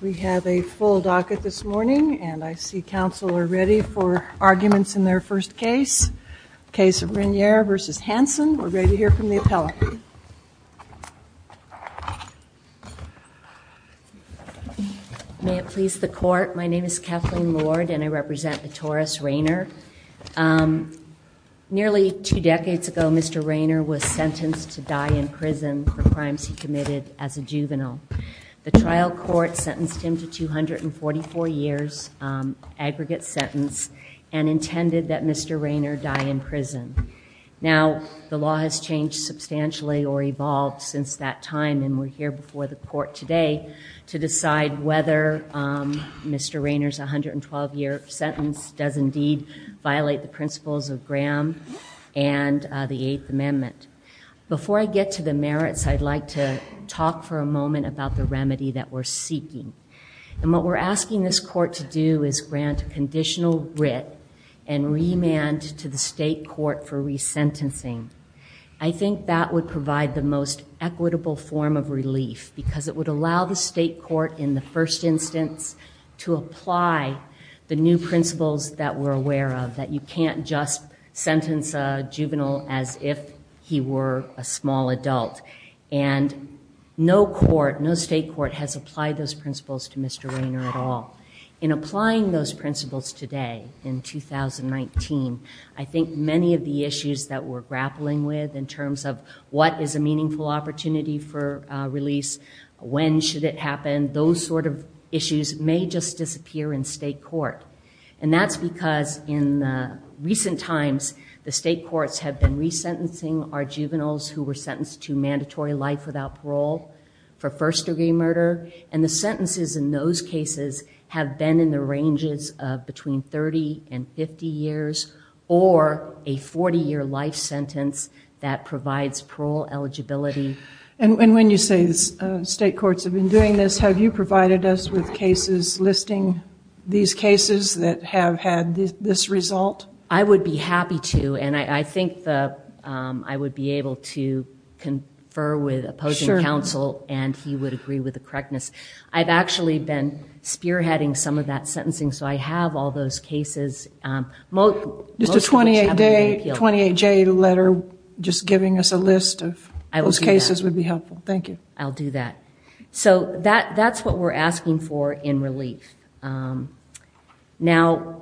May it please the court, my name is Kathleen Lord and I represent the Taurus Rainer. Nearly two decades ago Mr. Rainer was sentenced to die in prison for crimes he committed as a juvenile. The trial court sentenced him to 244 years aggregate sentence and intended that Mr. Rainer die in prison. Now the law has changed substantially or evolved since that time and we're here before the court today to decide whether Mr. Rainer's 112 year sentence does indeed violate the principles of Graham and the Eighth Amendment. Before I get to the merits I'd like to talk for a moment about the remedy that we're seeking and what we're asking this court to do is grant conditional writ and remand to the state court for resentencing. I think that would provide the most equitable form of relief because it would allow the state court in the you can't just sentence a juvenile as if he were a small adult and no court, no state court has applied those principles to Mr. Rainer at all. In applying those principles today in 2019 I think many of the issues that we're grappling with in terms of what is a meaningful opportunity for release, when should it happen, those sort of issues may just disappear in state court and that's because in recent times the state courts have been resentencing our juveniles who were sentenced to mandatory life without parole for first-degree murder and the sentences in those cases have been in the ranges of between 30 and 50 years or a 40 year life sentence that provides parole eligibility. And when you say the state courts have been doing this have you provided us with cases listing these cases that have had this result? I would be happy to and I think that I would be able to confer with opposing counsel and he would agree with the correctness. I've actually been spearheading some of that sentencing so I have all those cases. Mr. 28J letter just giving us a list of those cases would be helpful. Thank you. I'll do that. So that that's what we're asking for in relief. Now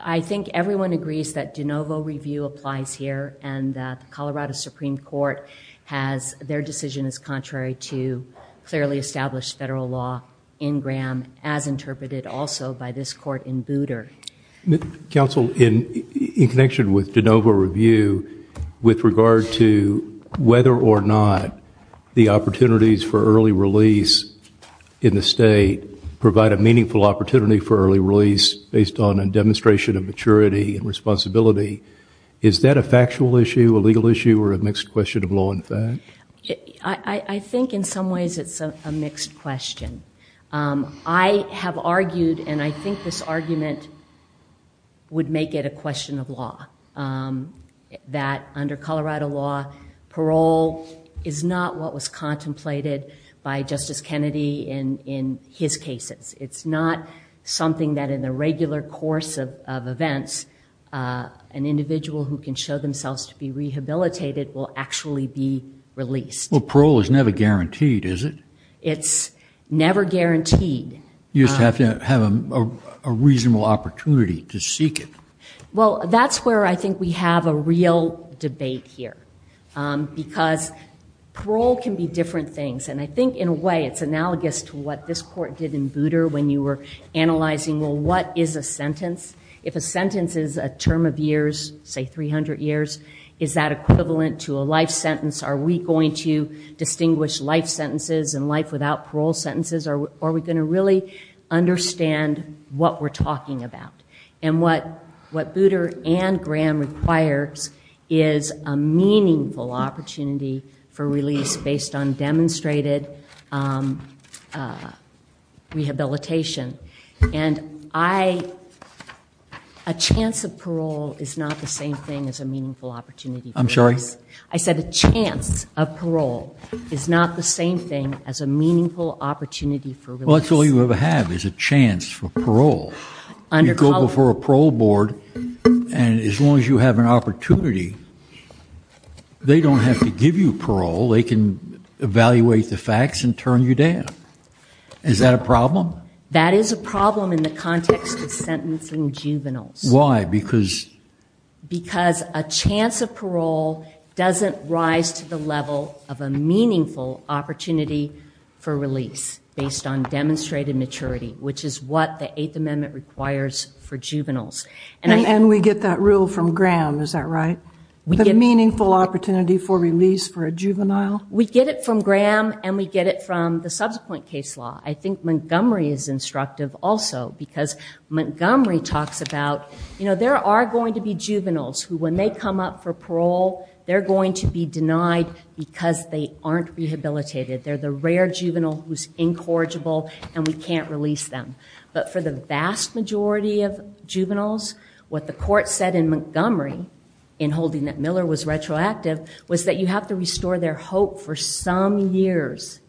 I think everyone agrees that de novo review applies here and the Colorado Supreme Court has their decision is contrary to clearly established federal law in Graham as interpreted also by this court in Booter. Counsel in connection with de novo review with regard to whether or not the opportunities for early release in the state provide a meaningful opportunity for early release based on a demonstration of maturity and responsibility. Is that a factual issue, a legal issue, or a mixed question of law and fact? I think in some ways it's a mixed question. I have argued and I think this argument would make it a question of law that under Colorado law parole is not what was contemplated by Justice Kennedy in in his cases. It's not something that in the regular course of events an individual who can show themselves to be rehabilitated will actually be released. Well parole is never guaranteed is it? It's never guaranteed. You just have to have a reasonable opportunity to seek it. Well that's where I think we have a real debate here because parole can be different things and I think in a way it's analogous to what this court did in Booter when you were analyzing well what is a sentence? If a sentence is a term of years, say 300 years, is that equivalent to a life sentence? Are we going to distinguish life sentences and life without parole sentences? Are we going to really understand what we're talking about? And what what Booter and Graham requires is a meaningful opportunity for release based on demonstrated rehabilitation. And a chance of parole is not the same thing as a meaningful opportunity for release. Well that's all you ever have is a chance for parole. You go before a parole board and as long as you have an opportunity they don't have to give you parole. They can evaluate the facts and turn you down. Is that a problem? That is a problem in the context of sentencing juveniles. Why? Because a chance of parole doesn't rise to the level of a life sentence. And we get that rule from Graham, is that right? We get a meaningful opportunity for release for a juvenile? We get it from Graham and we get it from the subsequent case law. I think Montgomery is instructive also because Montgomery talks about you know there are going to be juveniles who when they come up for parole they're going to be denied because they aren't rehabilitated. They're the rare juvenile who's incorrigible and we can't release them. But for the vast majority of juveniles what the court said in Montgomery in holding that Miller was retroactive was that you have to restore their hope for some years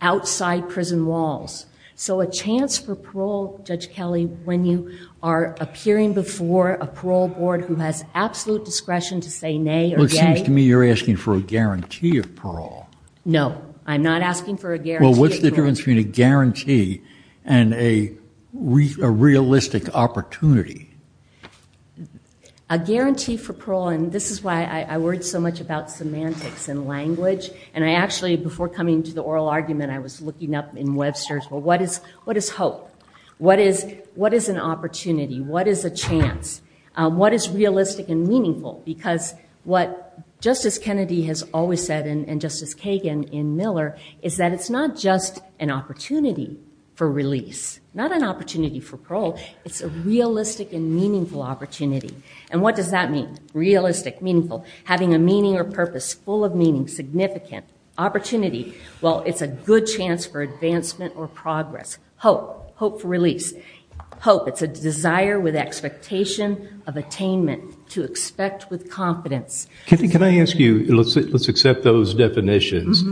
outside prison walls. So a chance for parole, Judge Kelly, when you are appearing before a parole board who has absolute discretion to say nay or yay. It seems to me you're asking for a guarantee of parole. No, I'm not asking for a guarantee. Well what's the difference between a guarantee and a realistic opportunity? A guarantee for parole and this is why I worried so much about semantics and language and I actually before coming to the oral argument I was looking up in Webster's well what is hope? What is an opportunity? What is a chance? What is realistic and meaningful? Because what Justice Kennedy has always said and Justice Kagan in Miller is that it's not just an opportunity for release, not an opportunity for parole, it's a realistic and meaningful opportunity. And what does that mean? Realistic, meaningful, having a meaning or purpose, full of meaning, significant. Opportunity, well it's a good chance for advancement or progress. Hope, hope for release. Hope, it's a desire with expectation of attainment to expect with confidence. Can I ask you, let's accept those definitions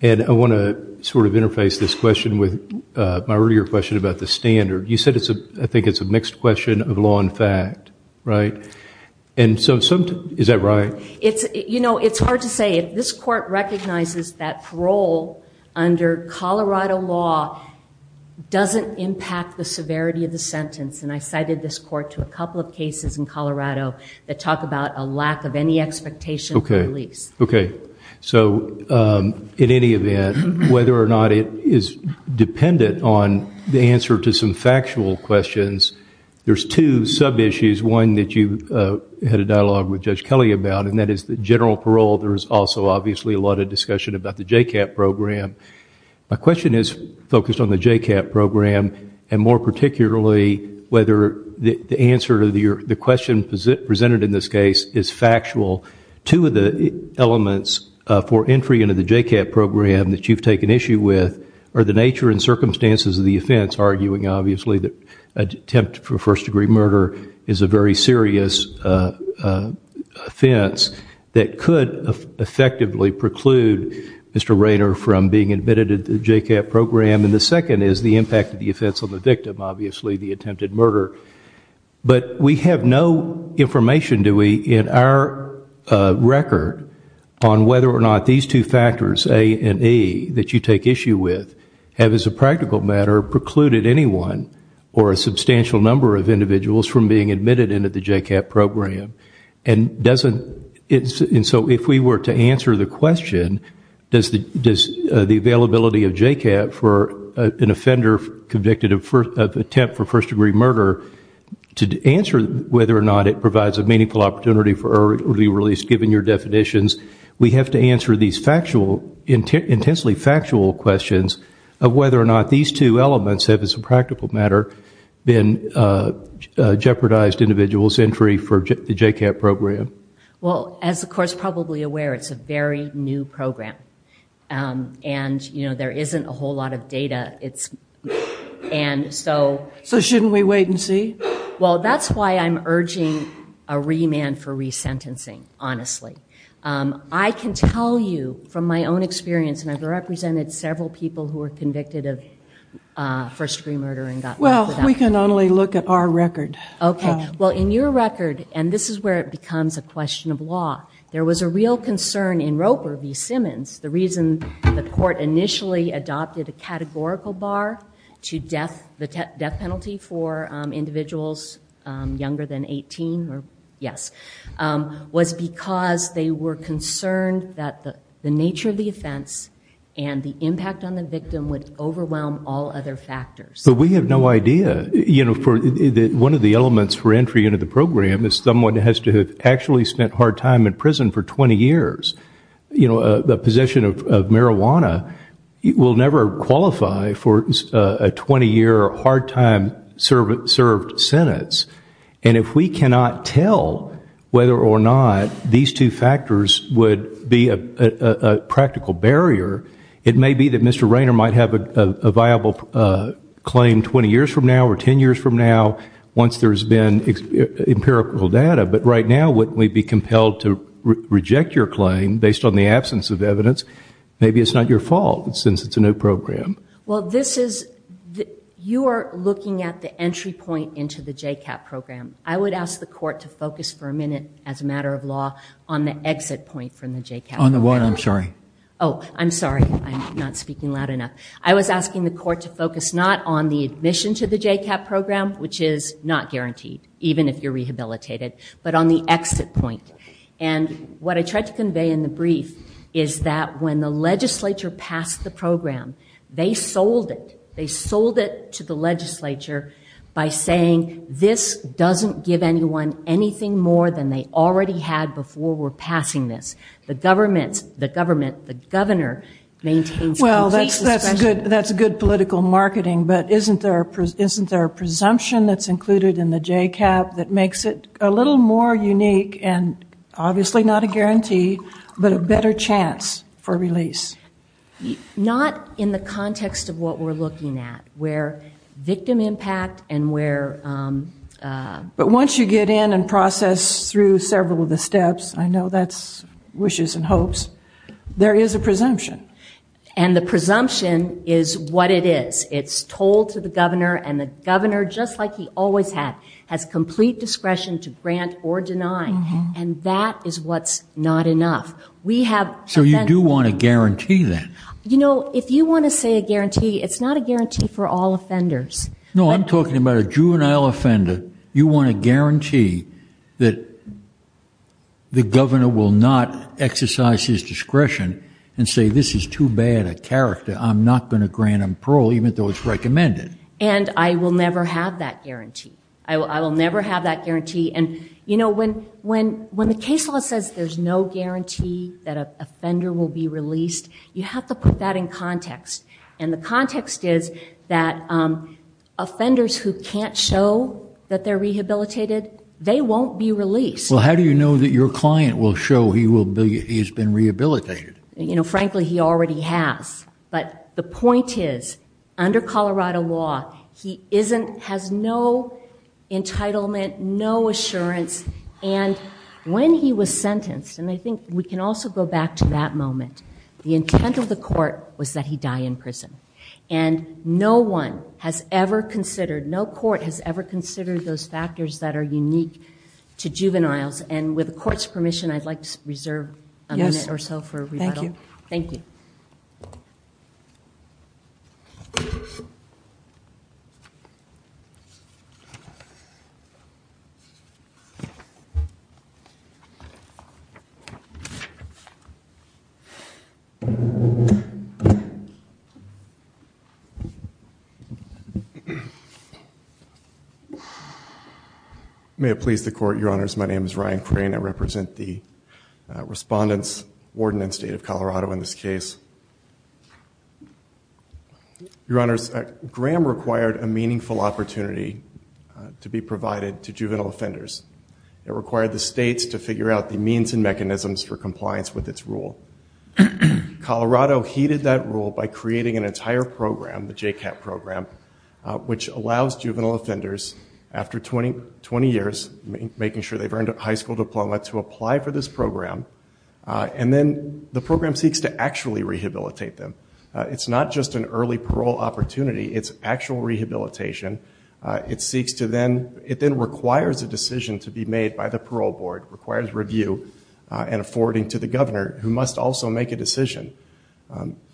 and I want to sort of interface this question with my earlier question about the standard. You said it's a I think it's a mixed question of law and fact, right? And so sometimes, is that right? It's, you know, it's hard to say. This court recognizes that parole under Colorado law doesn't impact the severity of the sentence and I cited this court to a couple of cases in Colorado that talk about a lack of any expectation for release. Okay, so in any event whether or not it is dependent on the answer to some factual questions, there's two sub-issues. One that you had a dialogue with Judge Kelly about and that is the general parole. There's also obviously a lot of discussion about the J-CAP program. My question is focused on the J-CAP program and more particularly whether the answer to your, the question presented in this case is factual. Two of the elements for entry into the J-CAP program that you've taken issue with are the nature and circumstances of the offense, arguing obviously that attempt for first degree murder is a very serious offense that could effectively preclude Mr. Rayner from being admitted into the J-CAP program. And the second is the impact of the offense on the victim, obviously the attempted murder. But we have no information, do we, in our record on whether or not these two factors, A and E, that you take issue with have as a practical matter precluded anyone or a substantial number of individuals from being admitted into the J-CAP program. And so if we were to answer the question, does the availability of J-CAP for an offender convicted of attempt for first degree murder, to answer whether or not it provides a meaningful opportunity for early release given your definitions, we have to answer these intensely factual questions of whether or not these two elements have, as a practical matter, been jeopardized individual's entry for the J-CAP program. Well, as the Court's probably aware, it's a very new program. And, you know, there isn't a whole lot of data. It's, and so. So shouldn't we wait and see? Well, that's why I'm urging a remand for resentencing, honestly. I can tell you from my own experience, and I've represented several people who were convicted of first degree murder and got. Well, we can only look at our record. Okay. Well, in your record, and this is where it becomes a question of law, there was a real concern in Roper v. Simmons. The reason the Court initially adopted a categorical bar to death, the death penalty for individuals younger than 18, or yes, was because they were concerned that the nature of the offense and the impact on the victim would overwhelm all other factors. But we have no idea. You know, one of the elements for entry into the program is someone has to have actually spent hard time in prison for 20 years. You know, the possession of marijuana will never qualify for a 20-year hard time served sentence. And if we cannot tell whether or not these two factors would be a practical barrier, it may be that Mr. Rainer might have a viable claim 20 years from now or 10 years from now once there's been empirical data. But right now, wouldn't we be compelled to reject your claim based on the absence of evidence? Maybe it's not your fault since it's a new program. Well, this is, you are looking at the entry point into the J-CAP program. I would ask the Court to focus for a minute, as a matter of law, on the exit point from the J-CAP program. On the what? I'm sorry. Oh, I'm sorry. I'm not speaking loud enough. I was asking the Court to focus not on the admission to the J-CAP program, which is not guaranteed, even if you're rehabilitated, but on the exit point. And what I tried to convey in the brief is that when the legislature passed the program, they sold it. They sold it to the legislature by saying this doesn't give anyone anything more than they already had before we're passing this. The government, the governor, maintains complete discretion. Well, that's good political marketing, but isn't there a presumption that's included in the J-CAP that makes it a little more unique and obviously not a guarantee, but a better chance for release? Not in the context of what we're looking at, where victim impact and where... But once you get in and process through several of the steps, I know that's wishes and hopes, there is a presumption. And the presumption is what it is. It's told to the governor and the governor, just like he always had, has complete discretion to grant or deny. And that is what's not enough. We have... So you do want a guarantee then? You know, if you want to say a guarantee, it's not a guarantee for all offenders. No, I'm talking about a juvenile offender. You want a guarantee that the governor will not exercise his discretion and say, this is too bad a character. I'm not going to grant him parole, even though it's recommended. And I will never have that guarantee. I will never have that guarantee. And, you know, when the case law says there's no guarantee that an offender will be released, you have to put that in context. And the context is that offenders who can't show that they're rehabilitated, they won't be released. Well, how do you know that your client will show he's been rehabilitated? You know, frankly, he already has. But the point is, under Colorado law, he isn't, has no entitlement, no assurance. And when he was sentenced, and I think we can also go back to that moment, the intent of the court was that he die in prison. And no one has ever considered, no court has ever considered those factors that are unique to juveniles. And with the court's permission, I'd like to reserve a minute or so for... Thank you. May it please the court, Your Honors, my name is Ryan Crane. I represent the Warden and State of Colorado in this case. Your Honors, Graham required a meaningful opportunity to be provided to juvenile offenders. It required the states to figure out the means and mechanisms for compliance with its rule. Colorado heeded that rule by creating an entire program, the J-CAP program, which allows juvenile offenders, after 20 years, making sure they've earned a high school diploma, to apply for this program. And then the program seeks to actually rehabilitate them. It's not just an early parole opportunity, it's actual rehabilitation. It seeks to then, it then requires a decision to be made by the parole board, requires review and forwarding to the governor, who must also make a decision.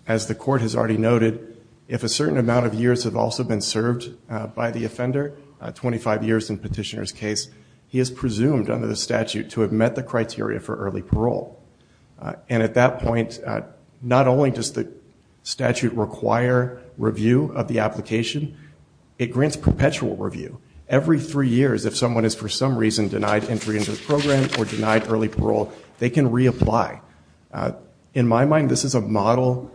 As the court has already noted, if a certain amount of years have also been served by the offender, 25 years in petitioner's case, he is presumed, under the statute, to have met the criteria for early parole. And at that point, not only does the statute require review of the application, it grants perpetual review. Every three years, if someone is for some reason denied entry into the program or denied early parole, they can reapply. In my mind, this is a model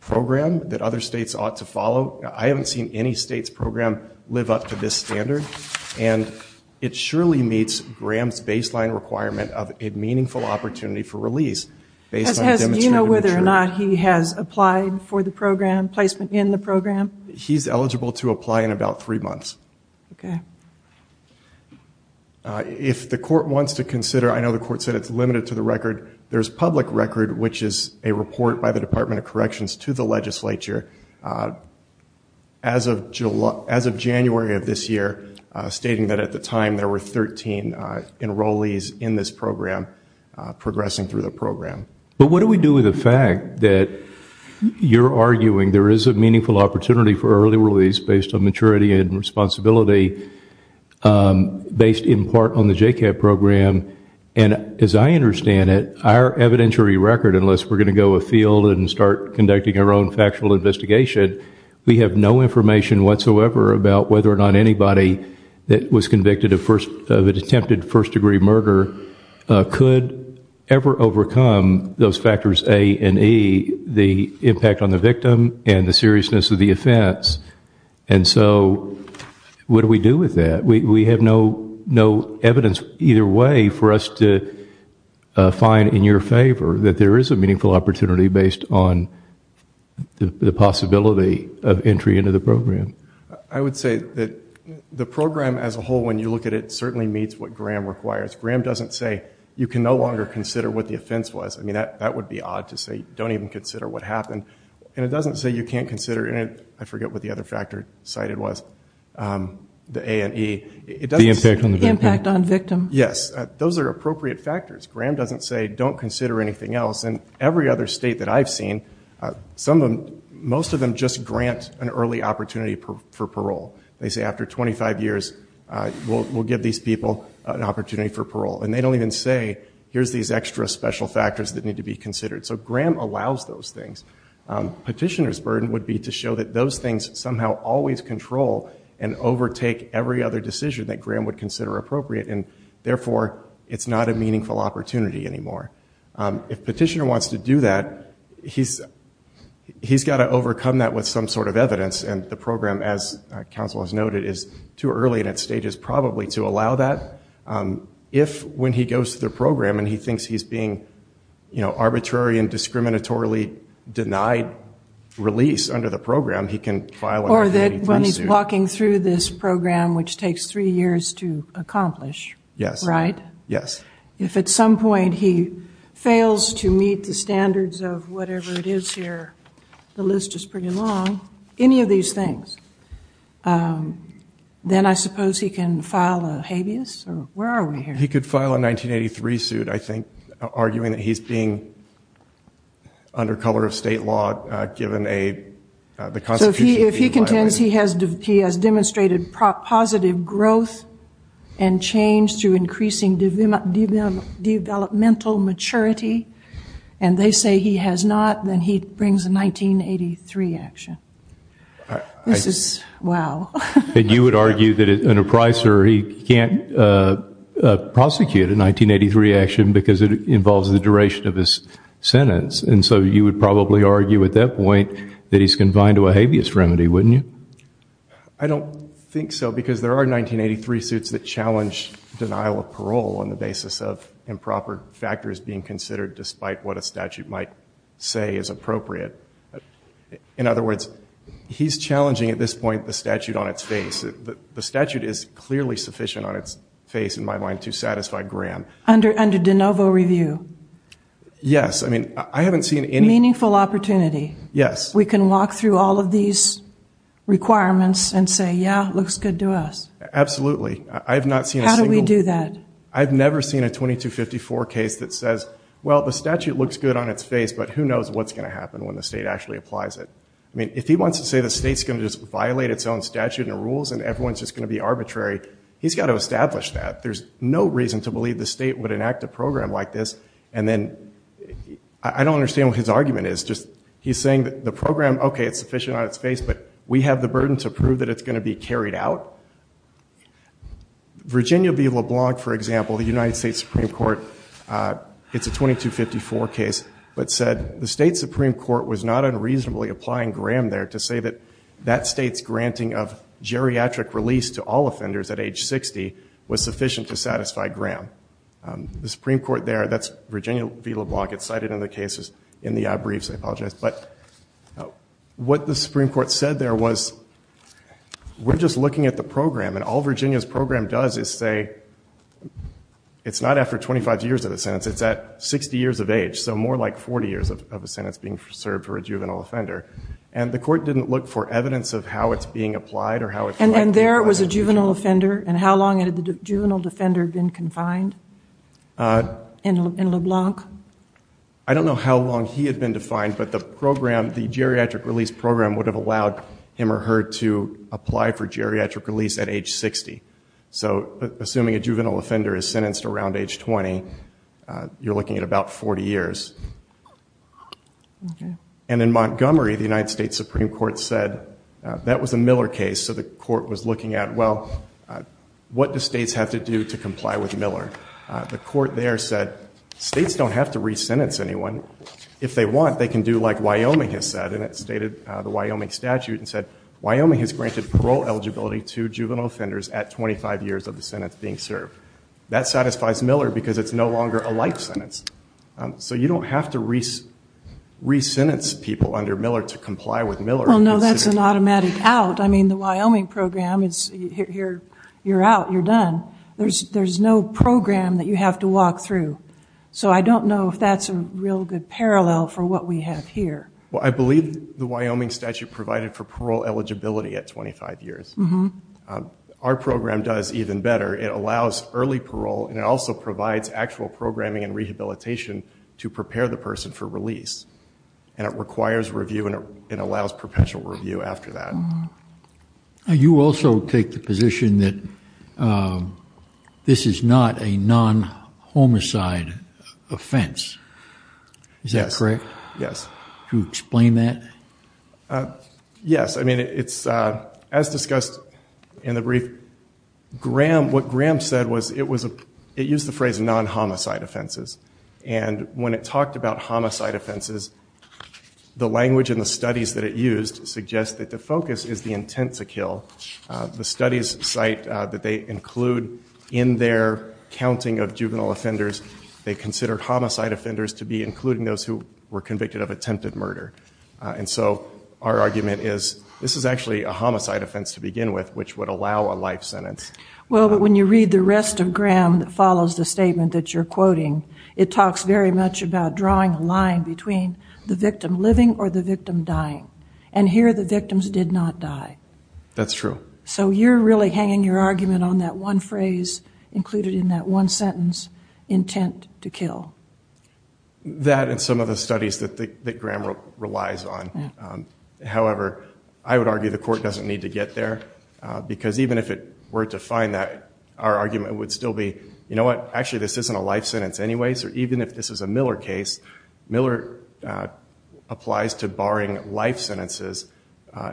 program that other states ought to follow. I haven't seen any state's baseline requirement of a meaningful opportunity for release. Do you know whether or not he has applied for the program, placement in the program? He's eligible to apply in about three months. If the court wants to consider, I know the court said it's limited to the record, there's public record, which is a report by the Department of Corrections to the legislature, as of January of this year, stating that at the time, there were 13 enrollees in this program progressing through the program. But what do we do with the fact that you're arguing there is a meaningful opportunity for early release based on maturity and responsibility, based in part on the J-CAB program, and as I understand it, our evidentiary record, unless we're going to go afield and start conducting our own factual investigation, we have no information whatsoever about whether or not anybody that was convicted of attempted first degree murder could ever overcome those factors A and E, the impact on the victim and the seriousness of the offense. And so what do we do with that? We have no evidence either way for us to find in your favor that there is a meaningful opportunity based on the possibility of entry into the program. I would say that the program as a whole, when you look at it, certainly meets what Graham requires. Graham doesn't say you can no longer consider what the offense was. I mean, that would be odd to say, don't even consider what happened. And it doesn't say you can't consider, and I forget what the other factor cited was, the A and E. The impact on the victim. Yes. Those are appropriate factors. Graham doesn't say, don't consider anything else. And every other state that I've seen, most of them just grant an early opportunity for parole. They say, after 25 years, we'll give these people an opportunity for parole. And they don't even say, here's these extra special factors that need to be considered. So Graham allows those things. Petitioner's burden would be to show that those things somehow always control and overtake every other decision that Graham would consider appropriate. And therefore, it's not a meaningful opportunity anymore. If Petitioner wants to do that, he's got to overcome that with some sort of evidence. And the program, as counsel has noted, is too early and at stages probably to allow that. If, when he goes to the program and he thinks he's being, you know, arbitrary and discriminatorily denied release under the program, he can file a committee procedure. Walking through this program, which takes three years to accomplish. Yes. Right? Yes. If at some point he fails to meet the standards of whatever it is here, the list is pretty long, any of these things, then I suppose he can file a habeas? Where are we here? He could file a 1983 suit, I think, arguing that he's being under color of state law, given the constitution being violated. If he contends he has demonstrated positive growth and change through increasing developmental maturity, and they say he has not, then he brings a 1983 action. This is, wow. And you would argue that an appraiser, he can't prosecute a 1983 action because it involves the duration of his sentence. And so you would probably argue at that point that he's confined to a habeas remedy, wouldn't you? I don't think so. Because there are 1983 suits that challenge denial of parole on the basis of improper factors being considered, despite what a statute might say is appropriate. In other words, he's challenging, at this point, the statute on its face. The statute is clearly sufficient on its face, in my mind, to satisfy Graham. Under de novo review. Yes. I haven't seen any- Meaningful opportunity. Yes. We can walk through all of these requirements and say, yeah, looks good to us. Absolutely. I've not seen a single- How do we do that? I've never seen a 2254 case that says, well, the statute looks good on its face, but who knows what's going to happen when the state actually applies it. I mean, if he wants to say the state's going to just violate its own statute and rules, and everyone's just going to be arbitrary, he's got to establish that. There's no reason to believe the state would enact a program like this. And then, I don't understand what his argument is. He's saying that the program, okay, it's sufficient on its face, but we have the burden to prove that it's going to be carried out. Virginia v. LeBlanc, for example, the United States Supreme Court, it's a 2254 case, but said the state Supreme Court was not unreasonably applying Graham there to say that that state's granting of geriatric release to all offenders at age 60 was sufficient to satisfy Graham. The Supreme Court there, that's Virginia v. LeBlanc. It's cited in the cases in the briefs. I apologize. But what the Supreme Court said there was, we're just looking at the program. And all Virginia's program does is say, it's not after 25 years of a sentence. It's at 60 years of age, so more like 40 years of a sentence being served for a juvenile offender. And the court didn't look for evidence of how it's being applied or how it's like to be applied. And how long had the juvenile defender been confined in LeBlanc? I don't know how long he had been defined, but the program, the geriatric release program would have allowed him or her to apply for geriatric release at age 60. So assuming a juvenile offender is sentenced around age 20, you're looking at about 40 years. And in Montgomery, the United States Supreme Court said that was a Miller case, so the question is, well, what do states have to do to comply with Miller? The court there said, states don't have to re-sentence anyone. If they want, they can do like Wyoming has said. And it stated the Wyoming statute and said, Wyoming has granted parole eligibility to juvenile offenders at 25 years of the sentence being served. That satisfies Miller because it's no longer a life sentence. So you don't have to re-sentence people under Miller to comply with Miller. Well, no, that's an automatic out. The Wyoming program, you're out, you're done. There's no program that you have to walk through. So I don't know if that's a real good parallel for what we have here. I believe the Wyoming statute provided for parole eligibility at 25 years. Our program does even better. It allows early parole, and it also provides actual programming and rehabilitation to prepare the person for release. And it requires review, and it allows perpetual review after that. You also take the position that this is not a non-homicide offense. Is that correct? Yes. Can you explain that? Yes. I mean, as discussed in the brief, what Graham said was, it used the phrase non-homicide offenses. And when it talked about homicide offenses, the language in the studies that it used suggests that the focus is the intent to kill. The studies cite that they include in their counting of juvenile offenders, they consider homicide offenders to be including those who were convicted of attempted murder. And so our argument is, this is actually a homicide offense to begin with, which would allow a life sentence. Well, but when you read the rest of Graham that follows the statement that you're quoting, it talks very much about drawing a line between the victim living or the victim dying. And here the victims did not die. That's true. So you're really hanging your argument on that one phrase included in that one sentence, intent to kill. That and some of the studies that Graham relies on. However, I would argue the court doesn't need to get there. Because even if it were to find that, our argument would still be, you know what, actually this isn't a life sentence anyway. Or even if this is a Miller case, Miller applies to barring life sentences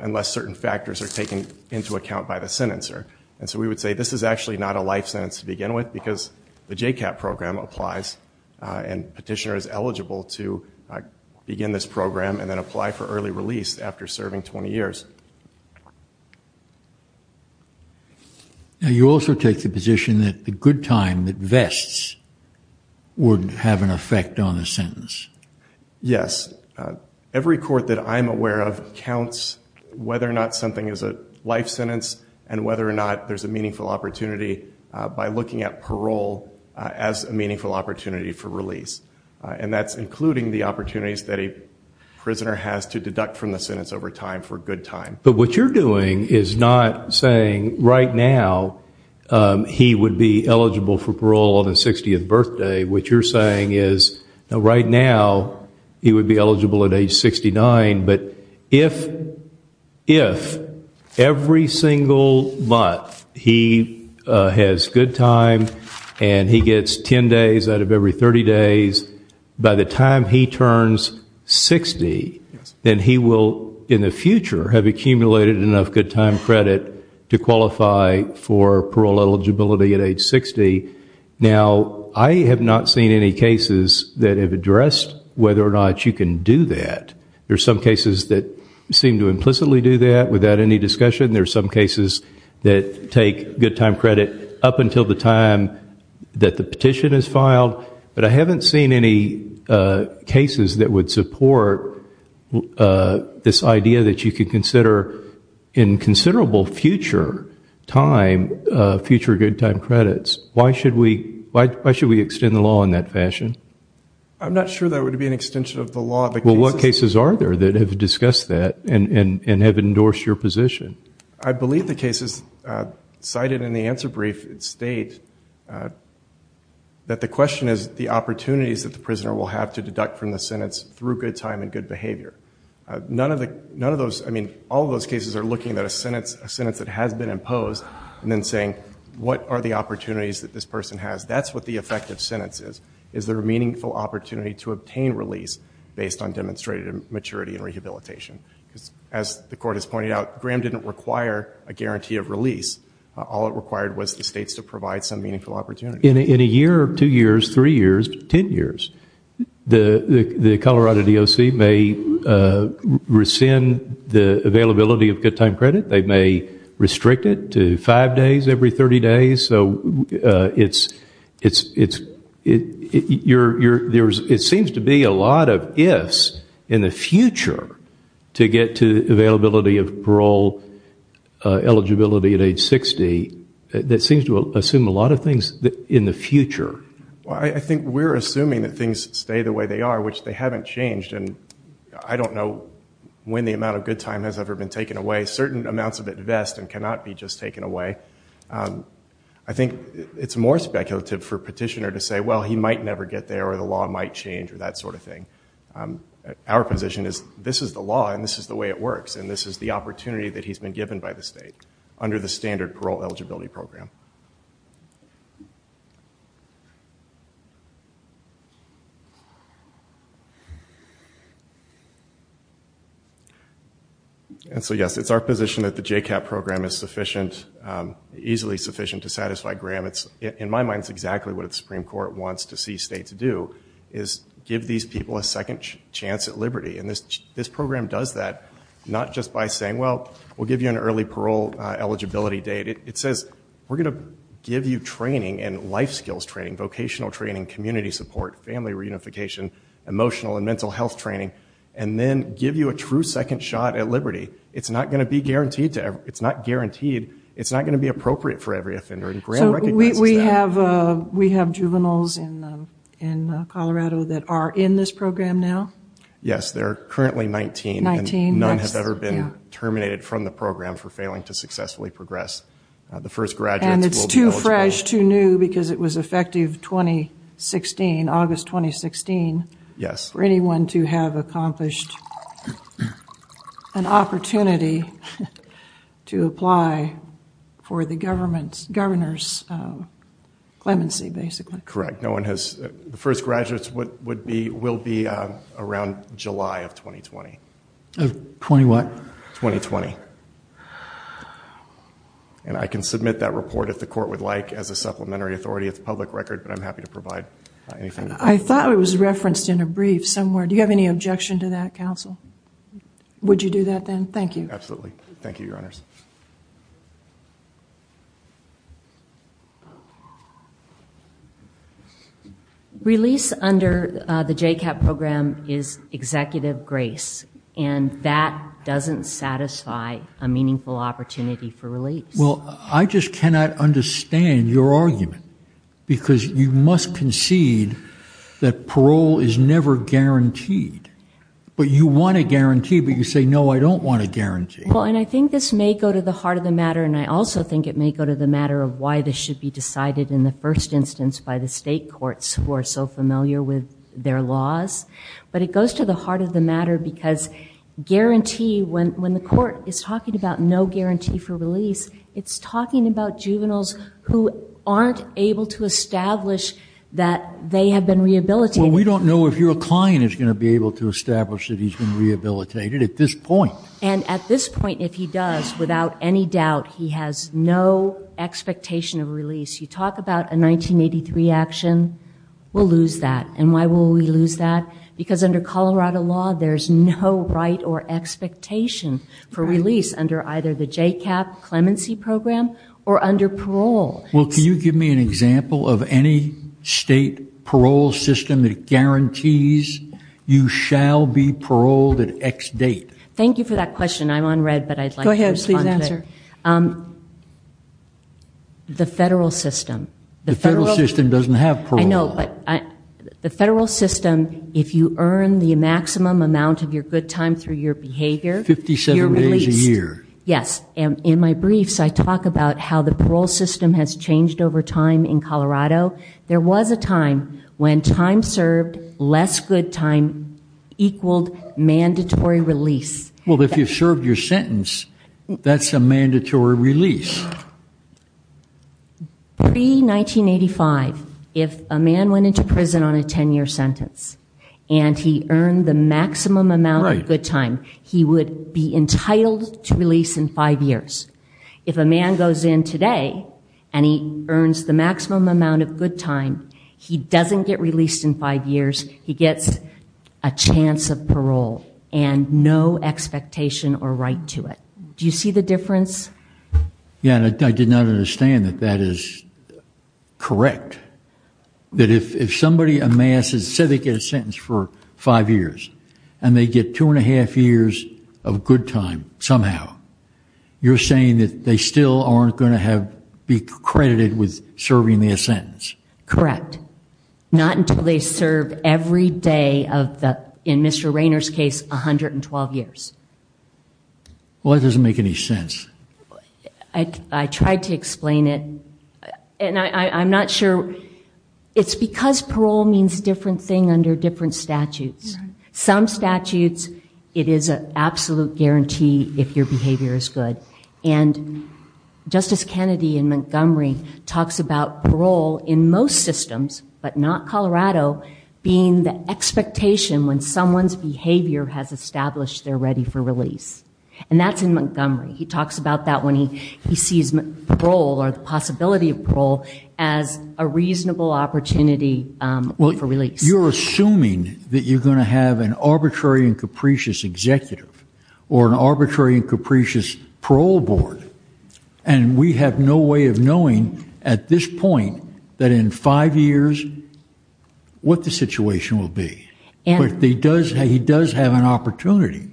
unless certain factors are taken into account by the sentencer. And so we would say this is actually not a life sentence to begin with because the J-CAP program applies and petitioner is eligible to begin this program and then apply for early release after serving 20 years. Now you also take the position that the good time that vests would have an effect on the sentence. Yes. Every court that I'm aware of counts whether or not something is a life sentence and whether or not there's a meaningful opportunity by looking at parole as a meaningful opportunity for release. And that's including the opportunities that a prisoner has to deduct from the sentence over time for good time. But what you're doing is not saying right now he would be eligible for parole on his 60th birthday. What you're saying is right now he would be eligible at age 69. But if every single month he has good time and he gets 10 days out of every 30 days, by the time he turns 60, then he will in the future have accumulated enough good time credit to qualify for parole eligibility at age 60. Now I have not seen any cases that have addressed whether or not you can do that. There's some cases that seem to implicitly do that without any discussion. There's some cases that take good time credit up until the time that the petition is filed. But I haven't seen any cases that would support this idea that you could consider in considerable future time future good time credits. Why should we extend the law in that fashion? I'm not sure that would be an extension of the law. Well, what cases are there that have discussed that and have endorsed your position? I believe the cases cited in the answer brief state that the question is the opportunities that the prisoner will have to deduct from the sentence through good time and good behavior. None of those, I mean, all of those cases are looking at a sentence that has been imposed and then saying what are the opportunities that this person has? That's what the effective sentence is. Is there a meaningful opportunity to obtain release based on demonstrated maturity and rehabilitation? As the court has pointed out, Graham didn't require a guarantee of release. All it required was the states to provide some meaningful opportunity. In a year or two years, three years, ten years, the Colorado DOC may rescind the availability of good time credit. They may restrict it to five days every 30 days. So it seems to be a lot of ifs in the future to get to availability of parole eligibility at age 60. That seems to assume a lot of things in the future. I think we're assuming that things stay the way they are, which they haven't changed. And I don't know when the amount of good time has ever been taken away. Certain amounts of it vest and cannot be just taken away. I think it's more speculative for a petitioner to say, well, he might never get there or the law might change or that sort of thing. Our position is this is the law and this is the way it works. And this is the opportunity that he's been given by the state under the standard parole eligibility program. And so, yes, it's our position that the J-CAP program is sufficient, easily sufficient to satisfy Graham. In my mind, it's exactly what the Supreme Court wants to see states do is give these people a second chance at liberty. And this program does that not just by saying, well, we'll give you an early parole eligibility date. It says we're going to give you training and life skills training, vocational training, community support, family reunification, emotional and mental health training, and then give you a true second shot at liberty. It's not going to be guaranteed. It's not guaranteed. It's not going to be appropriate for every offender. And Graham recognizes that. We have juveniles in Colorado that are in this program now? Yes, there are currently 19. 19. None have ever been terminated from the program for failing to successfully progress. The first graduates will be eligible. And it's too fresh, too new, because it was effective 2016, August 2016. Yes. For anyone to have accomplished an opportunity to apply for the governor's clemency, basically. Correct. No one has. The first graduates will be around July of 2020. Of 20 what? 2020. And I can submit that report, if the court would like, as a supplementary authority of the public record. But I'm happy to provide anything. I thought it was referenced in a brief somewhere. Do you have any objection to that, counsel? Would you do that, then? Thank you. Absolutely. Thank you, your honors. Release under the J-CAP program is executive grace. And that doesn't satisfy a meaningful opportunity for release. Well, I just cannot understand your argument. Because you must concede that parole is never guaranteed. But you want a guarantee, but you say, no, I don't want a guarantee. Well, and I think this may go to the heart of the matter. And I also think it may go to the matter of why this should be decided in the first instance by the state courts who are so familiar with their laws. But it goes to the heart of the matter. Because guarantee, when the court is talking about no guarantee for release, it's talking about juveniles who aren't able to establish that they have been rehabilitated. Well, we don't know if your client is going to be able to establish that he's been rehabilitated at this point. And at this point, if he does, without any doubt, he has no expectation of release. You talk about a 1983 action, we'll lose that. And why will we lose that? Because under Colorado law, there's no right or expectation for release under either the J-CAP clemency program or under parole. Well, can you give me an example of any state parole system that guarantees you shall be paroled at X date? Thank you for that question. I'm on read, but I'd like to respond to it. Go ahead, please answer. The federal system. The federal system doesn't have parole. I know, but the federal system, if you earn the maximum amount of your good time through your behavior, you're released. 57 days a year. Yes. And in my briefs, I talk about how the parole system has changed over time in Colorado. There was a time when time served, less good time, equaled mandatory release. Well, if you served your sentence, that's a mandatory release. Now, pre-1985, if a man went into prison on a 10-year sentence and he earned the maximum amount of good time, he would be entitled to release in five years. If a man goes in today and he earns the maximum amount of good time, he doesn't get released in five years. He gets a chance of parole and no expectation or right to it. Do you see the difference? Yeah, and I did not understand that that is correct. That if somebody amasses, say they get a sentence for five years and they get two and a half years of good time somehow, you're saying that they still aren't going to be credited with serving their sentence. Correct. Not until they serve every day of the, in Mr. Rainer's case, 112 years. Well, that doesn't make any sense. I tried to explain it and I'm not sure. It's because parole means a different thing under different statutes. Some statutes, it is an absolute guarantee if your behavior is good. And Justice Kennedy in Montgomery talks about parole in most systems, but not Colorado, being the expectation when someone's behavior has established they're ready for release. And that's in Montgomery. He talks about that when he sees parole or the possibility of parole as a reasonable opportunity for release. You're assuming that you're going to have an arbitrary and capricious executive or an arbitrary and capricious parole board. And we have no way of knowing at this point that in five years what the situation will be. But he does have an opportunity.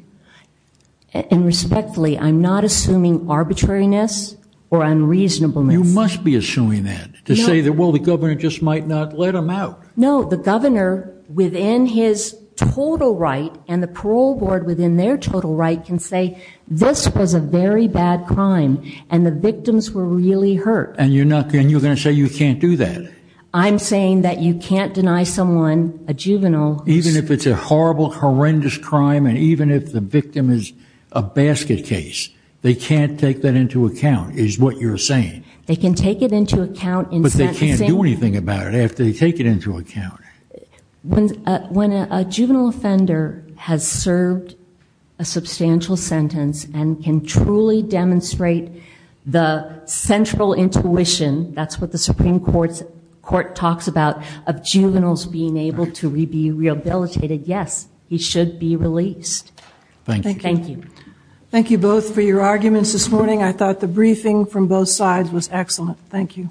And respectfully, I'm not assuming arbitrariness or unreasonableness. You must be assuming that to say that, well, the governor just might not let them out. No, the governor within his total right and the parole board within their total right can say this was a very bad crime and the victims were really hurt. And you're going to say you can't do that. I'm saying that you can't deny someone, a juvenile. Even if it's a horrible, horrendous crime and even if the victim is a basket case, they can't take that into account is what you're saying. They can take it into account. But they can't do anything about it after they take it into account. When a juvenile offender has served a substantial sentence and can truly demonstrate the central intuition, that's what the Supreme Court talks about, of juveniles being able to be rehabilitated, yes, he should be released. Thank you. Thank you both for your arguments this morning. I thought the briefing from both sides was excellent. Thank you. Thank you.